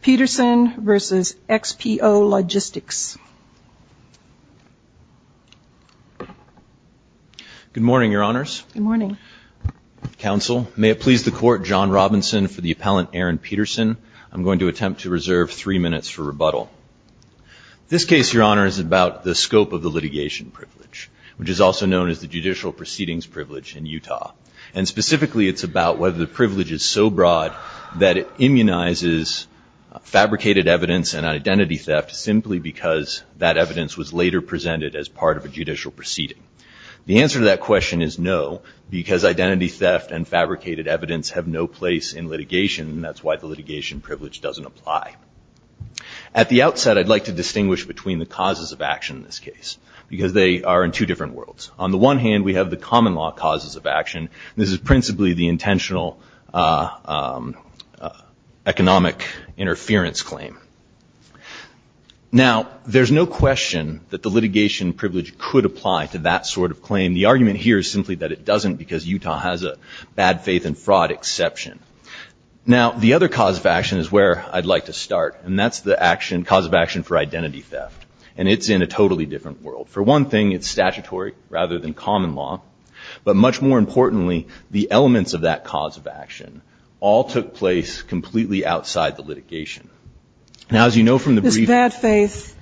Peterson v. XPO Logistics. Good morning, Your Honors. Good morning. Counsel, may it please the Court, John Robinson for the appellant, Aaron Peterson. I'm going to attempt to reserve three minutes for rebuttal. This case, Your Honor, is about the scope of the litigation privilege, which is also known as the judicial proceedings privilege in Utah. And specifically, it's about whether the privilege is so large that it recognizes fabricated evidence and identity theft simply because that evidence was later presented as part of a judicial proceeding. The answer to that question is no, because identity theft and fabricated evidence have no place in litigation, and that's why the litigation privilege doesn't apply. At the outset, I'd like to distinguish between the causes of action in this case, because they are in two different worlds. On the one hand, we have the common law causes of action. This is principally the intentional economic interference claim. Now, there's no question that the litigation privilege could apply to that sort of claim. The argument here is simply that it doesn't because Utah has a bad faith and fraud exception. Now, the other cause of action is where I'd like to start, and that's the cause of action for identity theft, and it's in a totally different world. For one thing, it's statutory rather than common law, but much more importantly, the elements of that cause of action all took place completely outside the litigation. Now, as you know from the brief- Is bad faith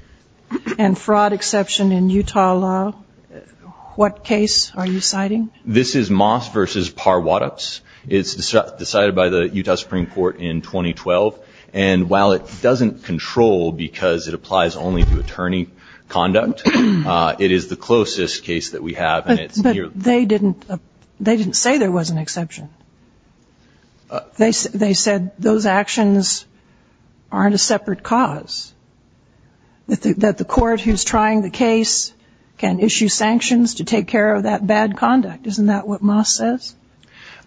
and fraud exception in Utah law? What case are you citing? This is Moss v. Parwatops. It's decided by the Utah Supreme Court in 2012, and while it doesn't control because it applies only to attorney conduct, it is the closest case that we have, and it's- But they didn't say there was an exception. They said those actions aren't a separate cause, that the court who's trying the case can issue sanctions to take care of that bad conduct. Isn't that what Moss says?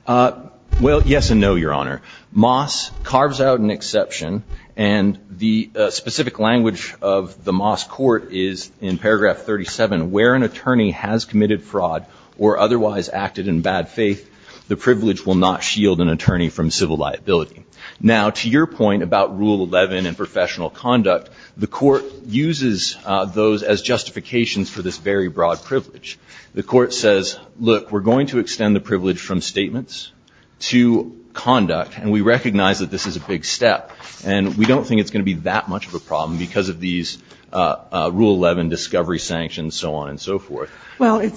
Well, yes and no, Your Honor. Moss carves out an exception, and the specific language of the Moss court is in paragraph 37, where an attorney has committed fraud or otherwise acted in bad faith, the privilege will not shield an attorney from civil liability. Now, to your point about Rule 11 and professional conduct, the court uses those as justifications for this very broad privilege. The court says, look, we're going to extend the privilege from statements to conduct, and we recognize that this is a big step, and we don't think it's going to be that much of a problem because of these Rule 11 discovery sanctions, so on and so forth. Well,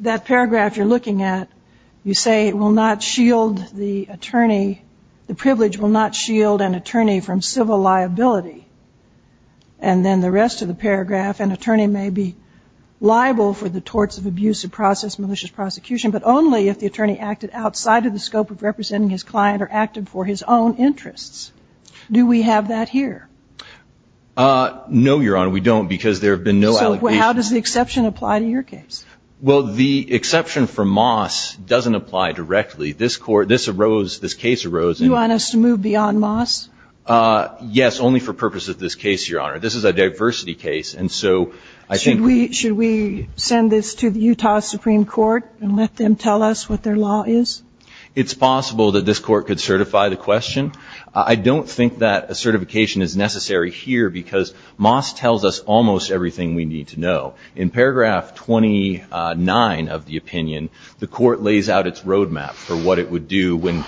that paragraph you're looking at, you say it will not shield the attorney, the privilege will not shield an attorney from civil liability, and then the rest of the paragraph, an attorney may be liable for the torts of abuse of process, malicious prosecution, but only if the attorney acted outside of the scope of representing his client or acted for his own interests. Do we have that here? No, Your Honor, we don't because there have been no allegations. How does the exception apply to your case? Well, the exception for Moss doesn't apply directly. This case arose in- You want us to move beyond Moss? Yes, only for purposes of this case, Your Honor. This is a diversity case, and so I think- Should we send this to the Utah Supreme Court and let them tell us what their law is? It's possible that this court could certify the question. I don't think that a certification is necessary here because Moss tells us almost everything we need to know. In paragraph 29 of the opinion, the court lays out its roadmap for what it would do when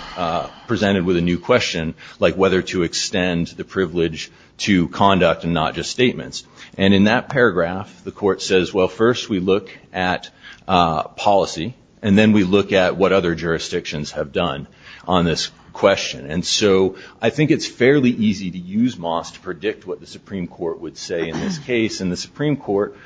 presented with a new question, like whether to extend the privilege to conduct and not just statements, and in that paragraph, the court says, well, first we look at policy, and then we look at what other jurisdictions have done on this question. And so I think it's fairly easy to use Moss to predict what the Supreme Court would say in this case. In the Supreme Court,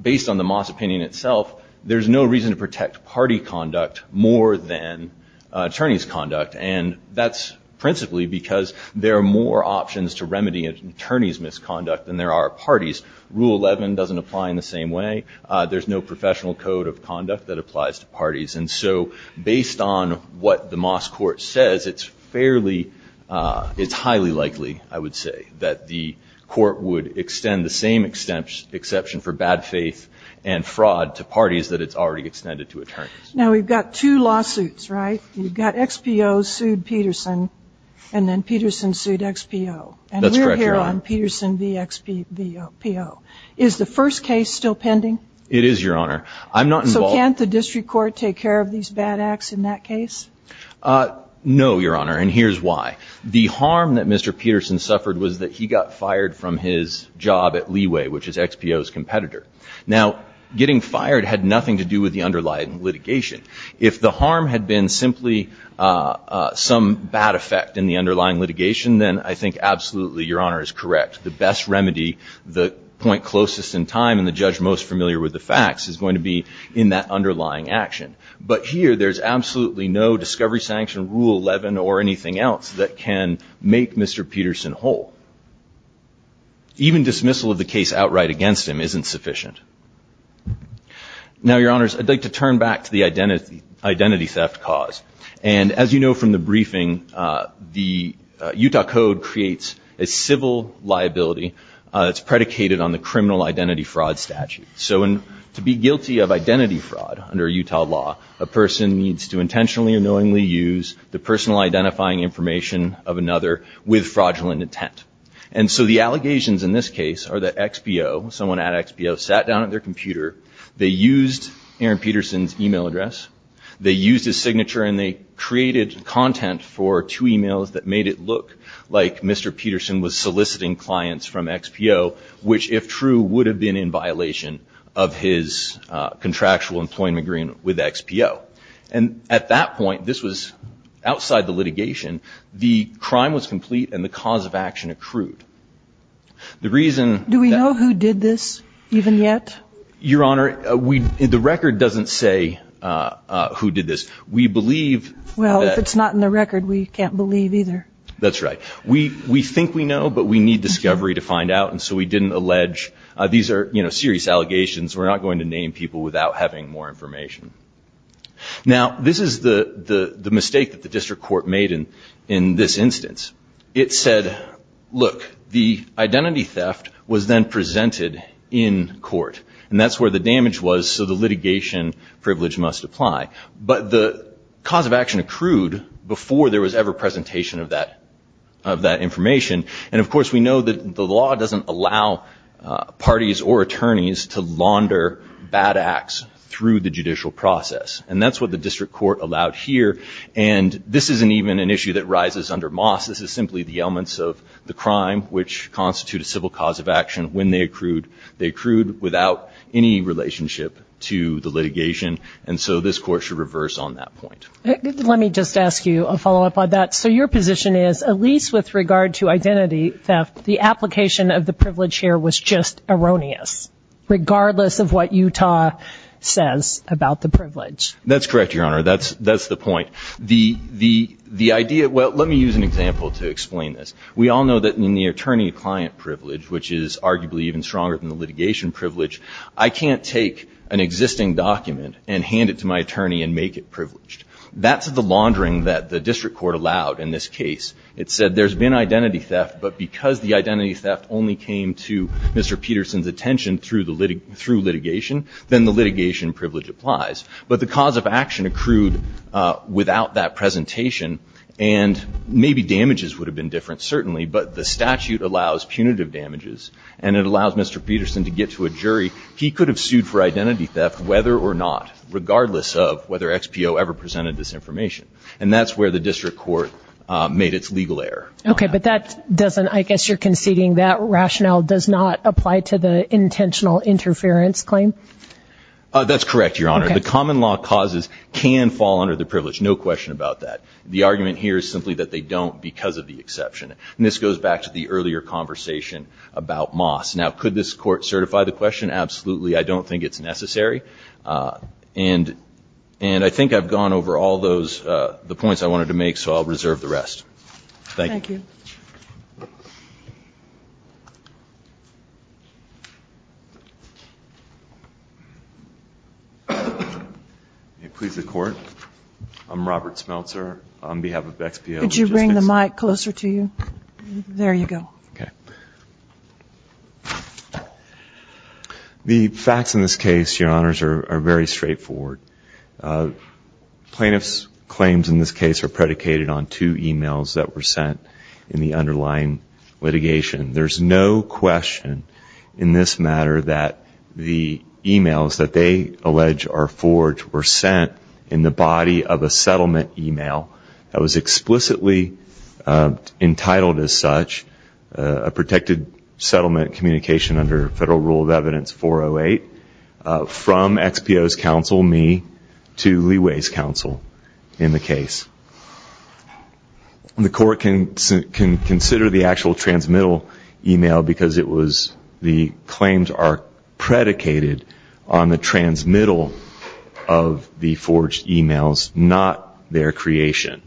based on the Moss opinion itself, there's no reason to protect party conduct more than attorneys' conduct, and that's principally because there are more options to remedy an attorney's misconduct than there are parties. Rule 11 doesn't apply in the same way. There's no professional code of conduct that applies to parties. And so based on what the Moss court says, it's fairly- the court would extend the same exception for bad faith and fraud to parties that it's already extended to attorneys. Now, we've got two lawsuits, right? You've got XPO sued Peterson, and then Peterson sued XPO. That's correct, Your Honor. And we're here on Peterson v. XPO. Is the first case still pending? It is, Your Honor. I'm not involved- So can't the district court take care of these bad acts in that case? No, Your Honor, and here's why. The harm that Mr. Peterson suffered was that he got fired from his job at Leeway, which is XPO's competitor. Now, getting fired had nothing to do with the underlying litigation. If the harm had been simply some bad effect in the underlying litigation, then I think absolutely, Your Honor, is correct. The best remedy, the point closest in time, and the judge most familiar with the facts is going to be in that underlying action. But here, there's absolutely no discovery sanction, Rule 11, or anything else that can make Mr. Peterson whole. Even dismissal of the case outright against him isn't sufficient. Now, Your Honors, I'd like to turn back to the identity theft cause. And as you know from the briefing, the Utah Code creates a civil liability that's predicated on the criminal identity fraud statute. So to be guilty of identity fraud under Utah law, a person needs to have information of another with fraudulent intent. And so the allegations in this case are that XPO, someone at XPO, sat down at their computer. They used Aaron Peterson's email address. They used his signature, and they created content for two emails that made it look like Mr. Peterson was soliciting clients from XPO, which, if true, would have been in violation of his contractual employment agreement with XPO. And at that point, this was outside the litigation. The crime was complete, and the cause of action accrued. The reason that- Do we know who did this even yet? Your Honor, the record doesn't say who did this. We believe that- Well, if it's not in the record, we can't believe either. That's right. We think we know, but we need discovery to find out. And so we didn't allege. These are serious allegations. We're not going to name people without having more information. Now, this is the mistake that the district court made in this instance. It said, look, the identity theft was then presented in court, and that's where the damage was, so the litigation privilege must apply. But the cause of action accrued before there was ever presentation of that information. And of course, we know that the law doesn't allow parties or attorneys to launder bad acts through the judicial process. And that's what the district court allowed here. And this isn't even an issue that rises under Moss. This is simply the elements of the crime, which constitute a civil cause of action. When they accrued, they accrued without any relationship to the litigation. And so this court should reverse on that point. Let me just ask you a follow-up on that. So your position is, at least with regard to identity theft, the application of the privilege here was just erroneous, regardless of what Utah says about the privilege. That's correct, Your Honor. That's the point. The idea—well, let me use an example to explain this. We all know that in the attorney-client privilege, which is arguably even stronger than the litigation privilege, I can't take an existing document and hand it to my attorney and make it privileged. That's the laundering that the district court allowed in this case. It said there's been identity theft, but because the identity theft only came to Mr. Peterson's attention through litigation, then the litigation privilege applies. But the cause of action accrued without that presentation. And maybe damages would have been different, certainly. But the statute allows punitive damages, and it allows Mr. Peterson to get to a jury. He could have sued for identity theft, whether or not—regardless of whether XPO ever presented this information. And that's where the district court made its legal error. Okay, but that doesn't—I guess you're conceding that rationale does not apply to the intentional interference claim? That's correct, Your Honor. The common law causes can fall under the privilege, no question about that. The argument here is simply that they don't because of the exception. And this goes back to the earlier conversation about Moss. Now, could this court certify the question? Absolutely. I don't think it's necessary. And I think I've gone over all those—the points I wanted to make, so I'll reserve the rest. Thank you. Thank you. May it please the Court, I'm Robert Smeltzer on behalf of XPO. Could you bring the mic closer to you? There you go. Okay. The facts in this case, Your Honors, are very straightforward. Plaintiff's claims in this case are predicated on two emails that were sent in the underlying litigation. There's no question in this matter that the emails that they allege are forged were sent in the body of a settlement email that was explicitly entitled as such, a protected settlement communication under Federal Rule of Evidence 408, from XPO's counsel, me, to Leeway's counsel in the case. The Court can consider the actual transmittal email because it was— on the transmittal of the forged emails, not their creation.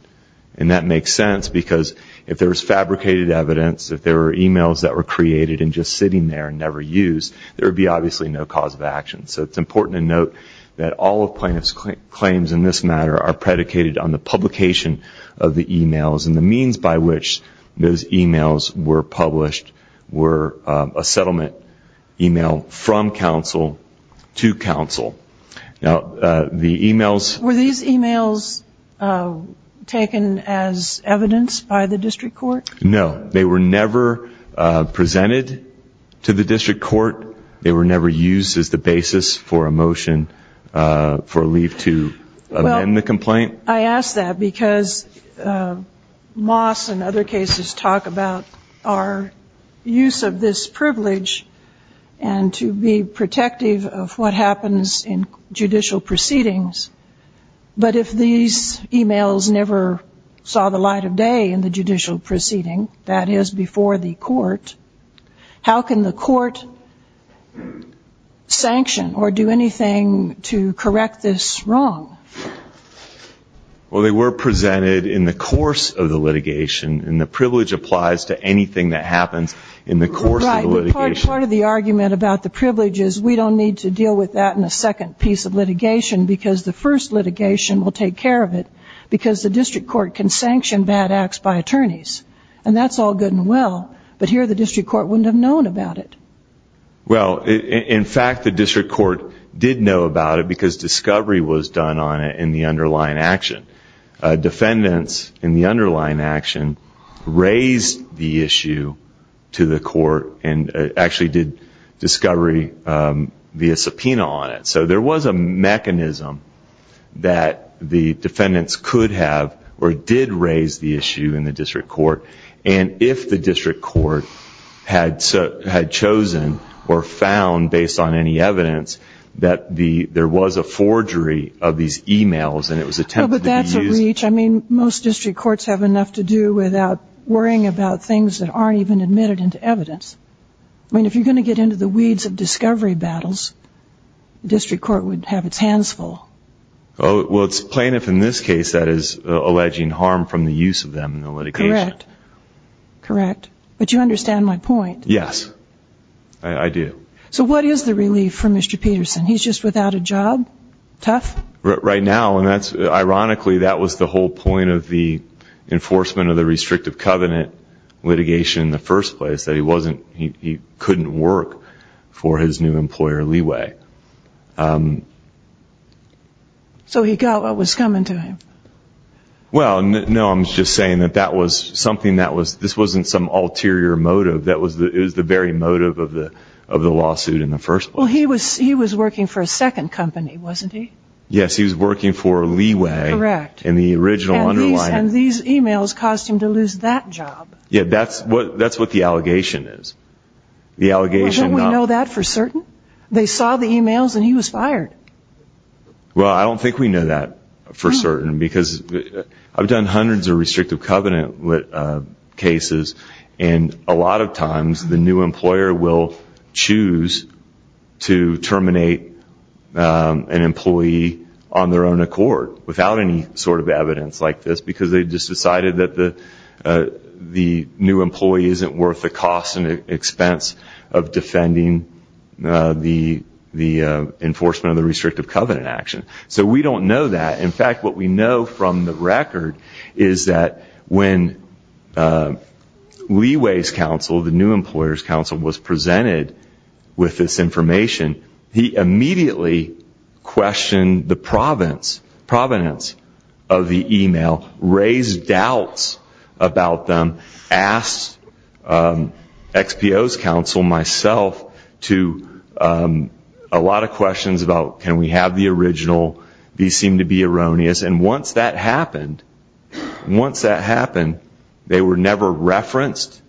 And that makes sense because if there was fabricated evidence, if there were emails that were created and just sitting there and never used, there would be obviously no cause of action. So it's important to note that all of Plaintiff's claims in this matter are predicated on the publication of the emails and the means by which those emails were published were a settlement email from counsel to counsel. Now, the emails— Were these emails taken as evidence by the District Court? No. They were never presented to the District Court. They were never used as the basis for a motion for a leave to amend the complaint. I ask that because Moss and other cases talk about our use of this privilege and to be protective of what happens in judicial proceedings. But if these emails never saw the light of day in the judicial proceeding, that is before the Court, how can the Court sanction or do anything to correct this wrong? Well, they were presented in the course of the litigation, and the privilege applies to anything that happens in the course of the litigation. Right, but part of the argument about the privilege is we don't need to deal with that in a second piece of litigation because the first litigation will take care of it because the District Court can sanction bad acts by attorneys. And that's all good and well. But here, the District Court wouldn't have known about it. Well, in fact, the District Court did know about it because discovery was done on it in the underlying action. Defendants in the underlying action raised the issue to the Court and actually did discovery via subpoena on it. So there was a mechanism that the defendants could have or did raise the issue in the District Court. And if the District Court had chosen or found, based on any evidence, that there was a forgery of these emails and it was attempted to be used... Well, but that's a reach. I mean, most District Courts have enough to do without worrying about things that aren't even admitted into evidence. I mean, if you're going to get into the weeds of discovery battles, the District Court would have its hands full. Well, it's plaintiff in this case that is alleging harm from the use of them in the litigation. Correct. Correct. But you understand my point. Yes, I do. So what is the relief for Mr. Peterson? He's just without a job? Tough? Right now, and ironically, that was the whole point of the enforcement of the restrictive covenant litigation in the first place, that he couldn't work for his new employer, Leeway. So he got what was coming to him? Well, no, I'm just saying that this wasn't some ulterior motive. It was the very motive of the lawsuit in the first place. Well, he was working for a second company, wasn't he? Yes, he was working for Leeway. Correct. And these emails caused him to lose that job. Yeah, that's what the allegation is. Well, wouldn't we know that for certain? They saw the emails and he was fired. Well, I don't think we know that for certain, because I've done hundreds of restrictive covenant cases, and a lot of times the new employer will choose to terminate an employee on their own accord, without any sort of evidence like this, because they just decided that the new employee isn't worth the cost and expense of defending the enforcement of the restrictive covenant action. So we don't know that. In fact, what we know from the record is that when Leeway's counsel, the new employer's counsel, was presented with this information, he immediately questioned the provenance of the email, raised doubts about them, asked XPO's counsel, myself, to a lot of questions about, can we have the original? These seem to be erroneous. And once that happened, once that happened, they were never referenced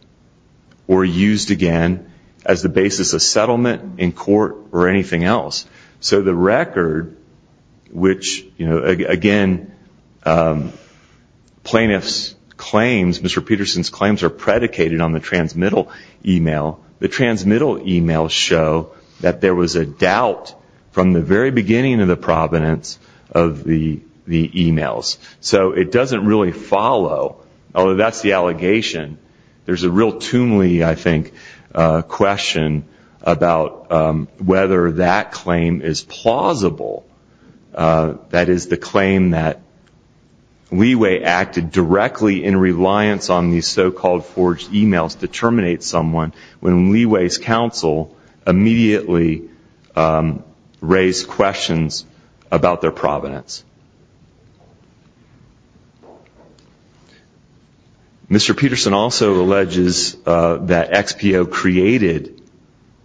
or used again as the basis of settlement in court or anything else. So the record, which, again, plaintiff's claims, Mr. Peterson's claims, are predicated on the transmittal email. The transmittal emails show that there was a doubt from the very beginning of the provenance of the emails. So it doesn't really follow, although that's the allegation. There's a real tunely, I think, question about whether that claim is plausible. That is the claim that Leeway acted directly in reliance on these so-called forged emails to terminate someone when Leeway's counsel immediately raised questions about their provenance. Mr. Peterson also alleges that XPO created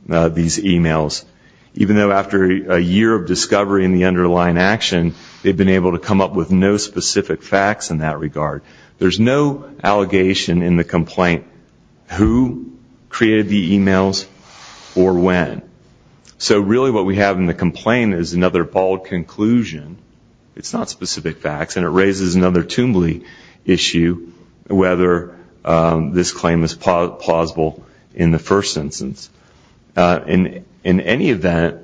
these emails, even though after a year of discovery in the underlying action, they've been able to come up with no specific facts in that regard. There's no allegation in the complaint who created the emails or when. So really what we have in the complaint is another bold conclusion. It's not specific facts, and it raises another tunely issue, whether this claim is plausible in the first instance. In any event,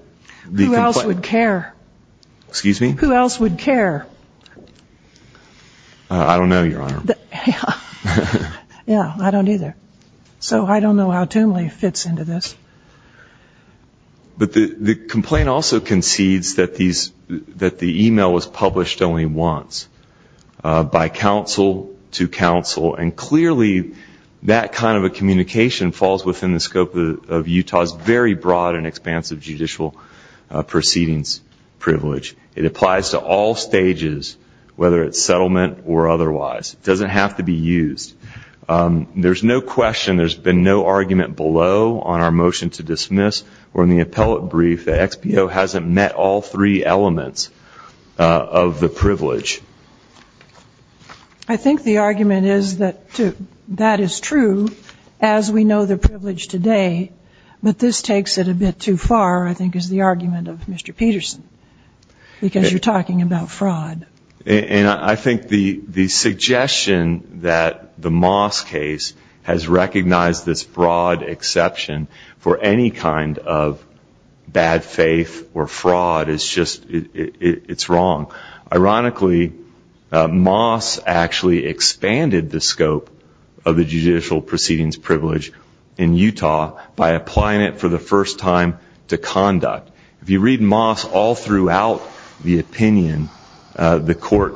the complaint- Who else would care? Excuse me? Who else would care? I don't know, Your Honor. Yeah, I don't either. So I don't know how tunely it fits into this. But the complaint also concedes that the email was published only once, by counsel to counsel, and clearly that kind of a communication falls within the scope of Utah's very broad and expansive judicial proceedings privilege. It applies to all stages, whether it's settlement or otherwise. It doesn't have to be used. There's no question, there's been no argument below on our motion to dismiss or in the appellate brief that XPO hasn't met all three elements of the privilege. I think the argument is that that is true, as we know the privilege today, but this takes it a bit too far, I think, is the argument of Mr. Peterson, because you're talking about fraud. And I think the suggestion that the Moss case has recognized this broad exception for any kind of bad faith or fraud is just, it's wrong. Ironically, Moss actually expanded the scope of the judicial proceedings privilege in Utah by applying it for the first time to conduct. If you read Moss all throughout the opinion, the court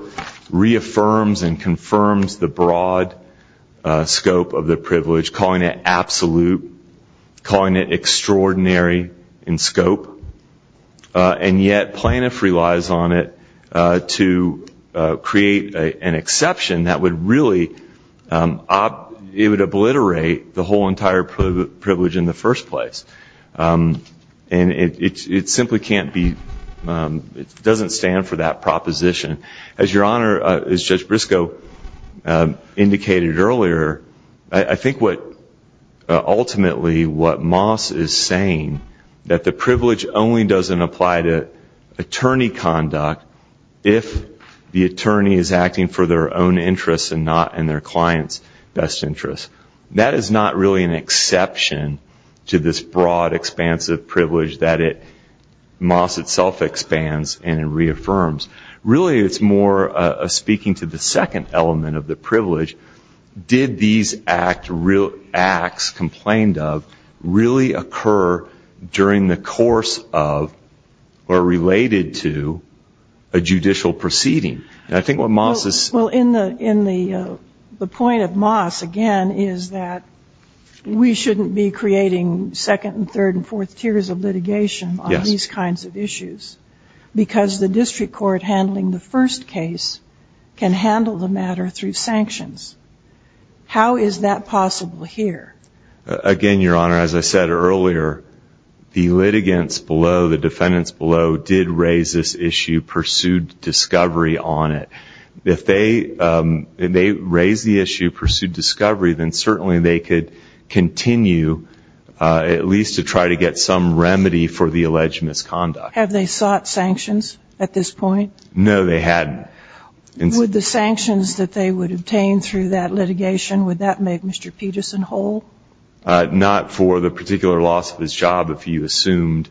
reaffirms and confirms the broad scope of the privilege, calling it absolute, calling it extraordinary in scope, and yet Planoff relies on it to create an exception that would really, it would obliterate the whole entire privilege in the first place. And it simply can't be, it doesn't stand for that proposition. As Your Honor, as Judge Briscoe indicated earlier, I think what ultimately what Moss is saying, that the privilege only doesn't apply to attorney conduct if the attorney is acting for their own interests and not in their client's best interest. That is not really an exception to this broad, expansive privilege that Moss itself expands and reaffirms. Really, it's more speaking to the second element of the privilege. Did these acts complained of really occur during the course of or related to a judicial proceeding? Well, in the point of Moss, again, is that we shouldn't be creating second and third and fourth tiers of litigation on these kinds of issues because the district court handling the first case can handle the matter through sanctions. How is that possible here? Again, Your Honor, as I said earlier, the litigants below, the defendants below, did raise this issue, pursued discovery on it. If they raised the issue, pursued discovery, then certainly they could continue at least to try to get some remedy for the alleged misconduct. Have they sought sanctions at this point? No, they hadn't. Would the sanctions that they would obtain through that litigation, would that make Mr. Peterson whole? Not for the particular loss of his job, if you assumed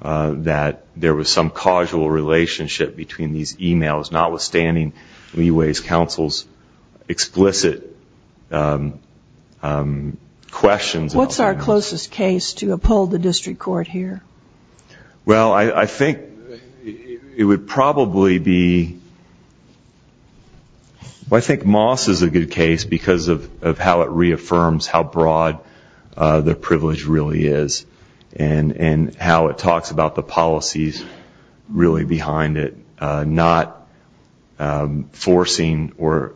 that there was some causal relationship between these e-mails, notwithstanding Leeway's counsel's explicit questions. What's our closest case to uphold the district court here? Well, I think it would probably be, I think Moss is a good case because of how it reaffirms how broad the privilege really is and how it talks about the policies really behind it, not forcing or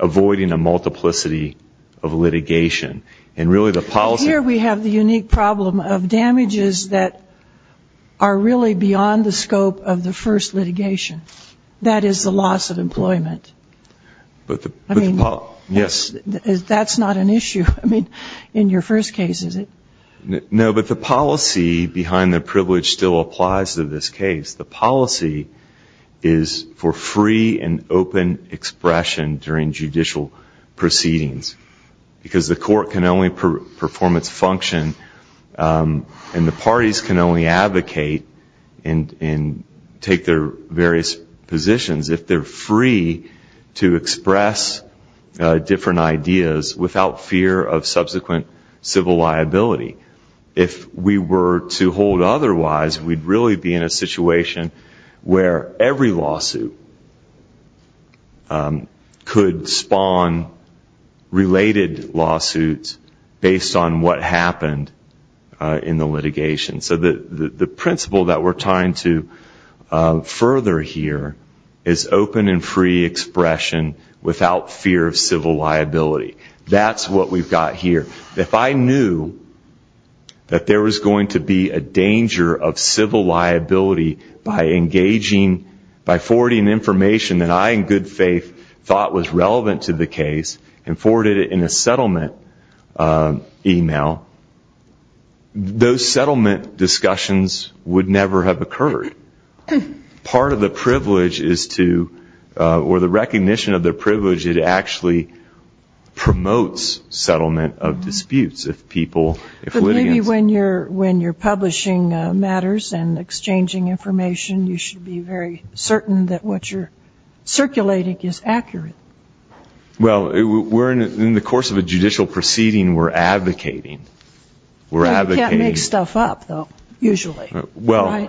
avoiding a multiplicity of litigation and really the policy. Here we have the unique problem of damages that are really beyond the scope of the first litigation. That is the loss of employment. Yes. That's not an issue in your first case, is it? No, but the policy behind the privilege still applies to this case. The policy is for free and open expression during judicial proceedings because the court can only perform its function and the parties can only advocate and take their various positions if they're free to express different ideas without fear of subsequent civil liability. If we were to hold otherwise, we'd really be in a situation where every lawsuit could spawn related lawsuits based on what happened in the litigation. So the principle that we're trying to further here is open and free expression without fear of civil liability. That's what we've got here. If I knew that there was going to be a danger of civil liability by forwarding information that I in good faith thought was relevant to the case and forwarded it in a settlement email, those settlement discussions would never have occurred. Part of the privilege is to, or the recognition of the privilege, it actually promotes settlement of disputes if people, if litigants. But maybe when you're publishing matters and exchanging information, you should be very certain that what you're circulating is accurate. Well, in the course of a judicial proceeding, we're advocating. You can't make stuff up, though, usually. That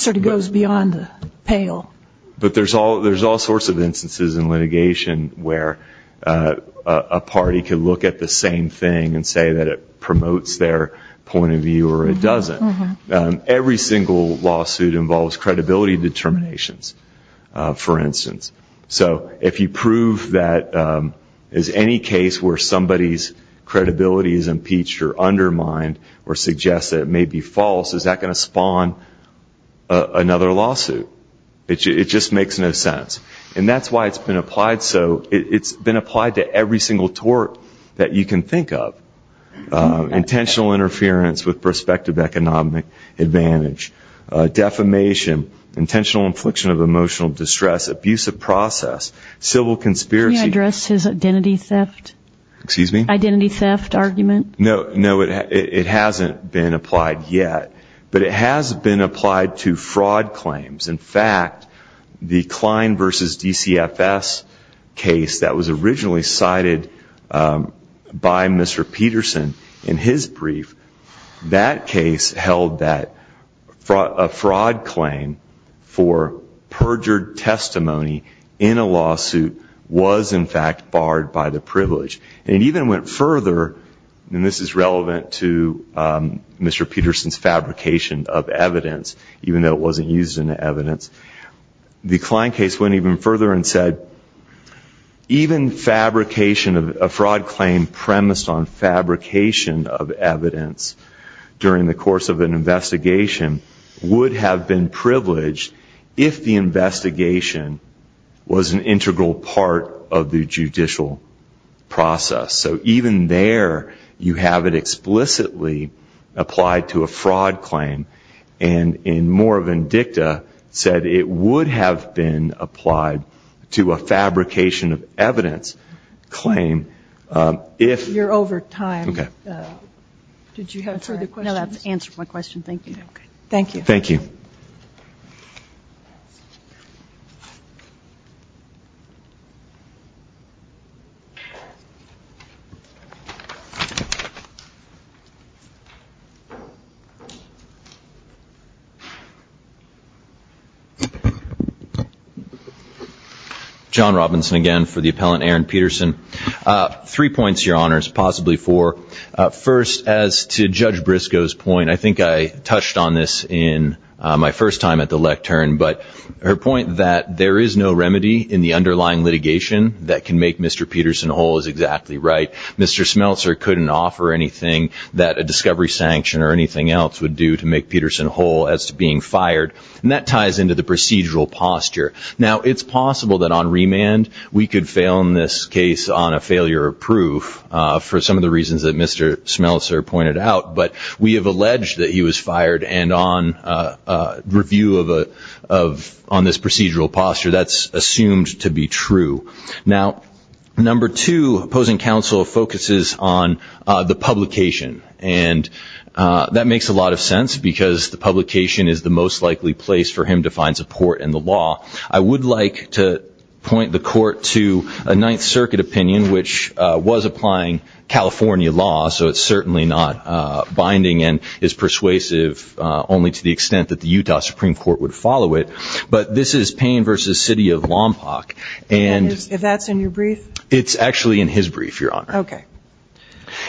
sort of goes beyond the pale. But there's all sorts of instances in litigation where a party can look at the same thing and say that it promotes their point of view or it doesn't. Every single lawsuit involves credibility determinations, for instance. So if you prove that as any case where somebody's credibility is impeached or undermined or suggests that it may be false, is that going to spawn another lawsuit? It just makes no sense. And that's why it's been applied so. It's been applied to every single tort that you can think of. Intentional interference with prospective economic advantage. Defamation. Intentional infliction of emotional distress. Abusive process. Civil conspiracy. Can you address his identity theft argument? No, it hasn't been applied yet. But it has been applied to fraud claims. In fact, the Klein v. DCFS case that was originally cited by Mr. Peterson in his brief, that case held that a fraud claim for perjured testimony in a lawsuit was in fact barred by the privilege. And it even went further, and this is relevant to Mr. Peterson's fabrication of evidence, even though it wasn't used in the evidence. The Klein case went even further and said, even fabrication of a fraud claim premised on fabrication of evidence during the course of an investigation would have been privileged if the investigation was an integral part of the judicial process. So even there you have it explicitly applied to a fraud claim and in more vindicta said it would have been applied to a fabrication of evidence claim if. You're over time. Okay. Did you have further questions? No, that's answered my question. Thank you. Thank you. Thank you. John Robinson again for the appellant, Aaron Peterson. Three points, Your Honors, possibly four. First, as to Judge Briscoe's point, I think I touched on this in my first time at the lectern, but her point that there is no remedy in the underlying litigation that can make Mr. Peterson whole is exactly right. Mr. Smeltzer couldn't offer anything that a discovery sanction or anything else would do to make Peterson whole as to being fired, and that ties into the procedural posture. Now, it's possible that on remand we could fail in this case on a failure of proof for some of the reasons that Mr. Smeltzer pointed out, but we have alleged that he was fired and on review on this procedural posture that's assumed to be true. Now, number two, opposing counsel focuses on the publication, and that makes a lot of sense because the publication is the most likely place for him to find support in the law. I would like to point the Court to a Ninth Circuit opinion, which was applying California law, so it's certainly not binding and is persuasive only to the extent that the Utah Supreme Court would follow it, but this is Payne v. City of Lompoc. And if that's in your brief? It's actually in his brief, Your Honor. Okay.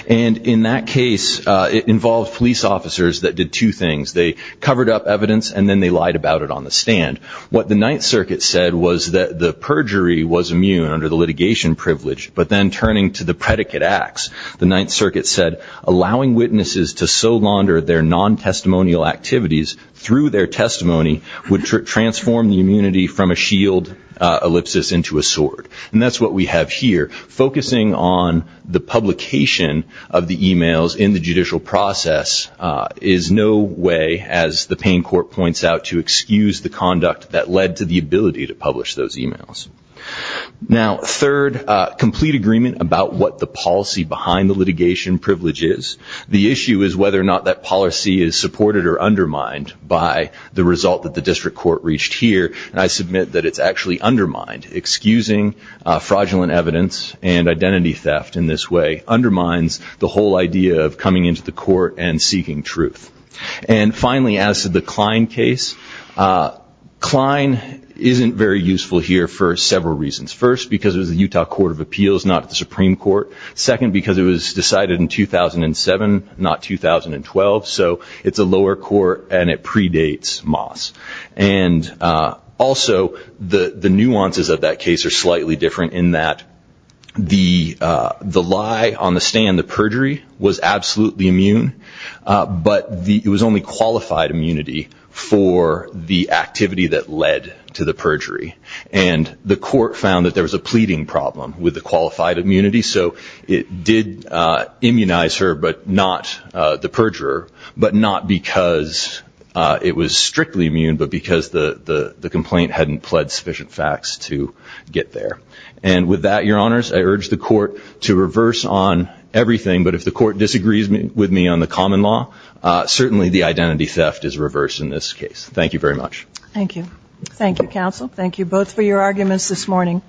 And in that case, it involved police officers that did two things. They covered up evidence and then they lied about it on the stand. What the Ninth Circuit said was that the perjury was immune under the litigation privilege, but then turning to the predicate acts, the Ninth Circuit said, allowing witnesses to so launder their non-testimonial activities through their testimony would transform the immunity from a shield ellipsis into a sword. And that's what we have here. Focusing on the publication of the e-mails in the judicial process is no way, as the Payne Court points out, to excuse the conduct that led to the ability to publish those e-mails. Now, third, complete agreement about what the policy behind the litigation privilege is. The issue is whether or not that policy is supported or undermined by the result that the district court reached here, and I submit that it's actually undermined. Excusing fraudulent evidence and identity theft in this way undermines the whole idea of coming into the court and seeking truth. And finally, as to the Klein case, Klein isn't very useful here for several reasons. First, because it was the Utah Court of Appeals, not the Supreme Court. Second, because it was decided in 2007, not 2012, so it's a lower court and it predates Moss. And also, the nuances of that case are slightly different in that the lie on the stand, the perjury, was absolutely immune, but it was only qualified immunity for the activity that led to the perjury. And the court found that there was a pleading problem with the qualified immunity, so it did immunize her, but not the perjurer, but not because it was strictly immune, but because the complaint hadn't pled sufficient facts to get there. And with that, Your Honors, I urge the court to reverse on everything, but if the court disagrees with me on the common law, certainly the identity theft is reversed in this case. Thank you very much. Thank you. Thank you, counsel. Thank you both for your arguments this morning.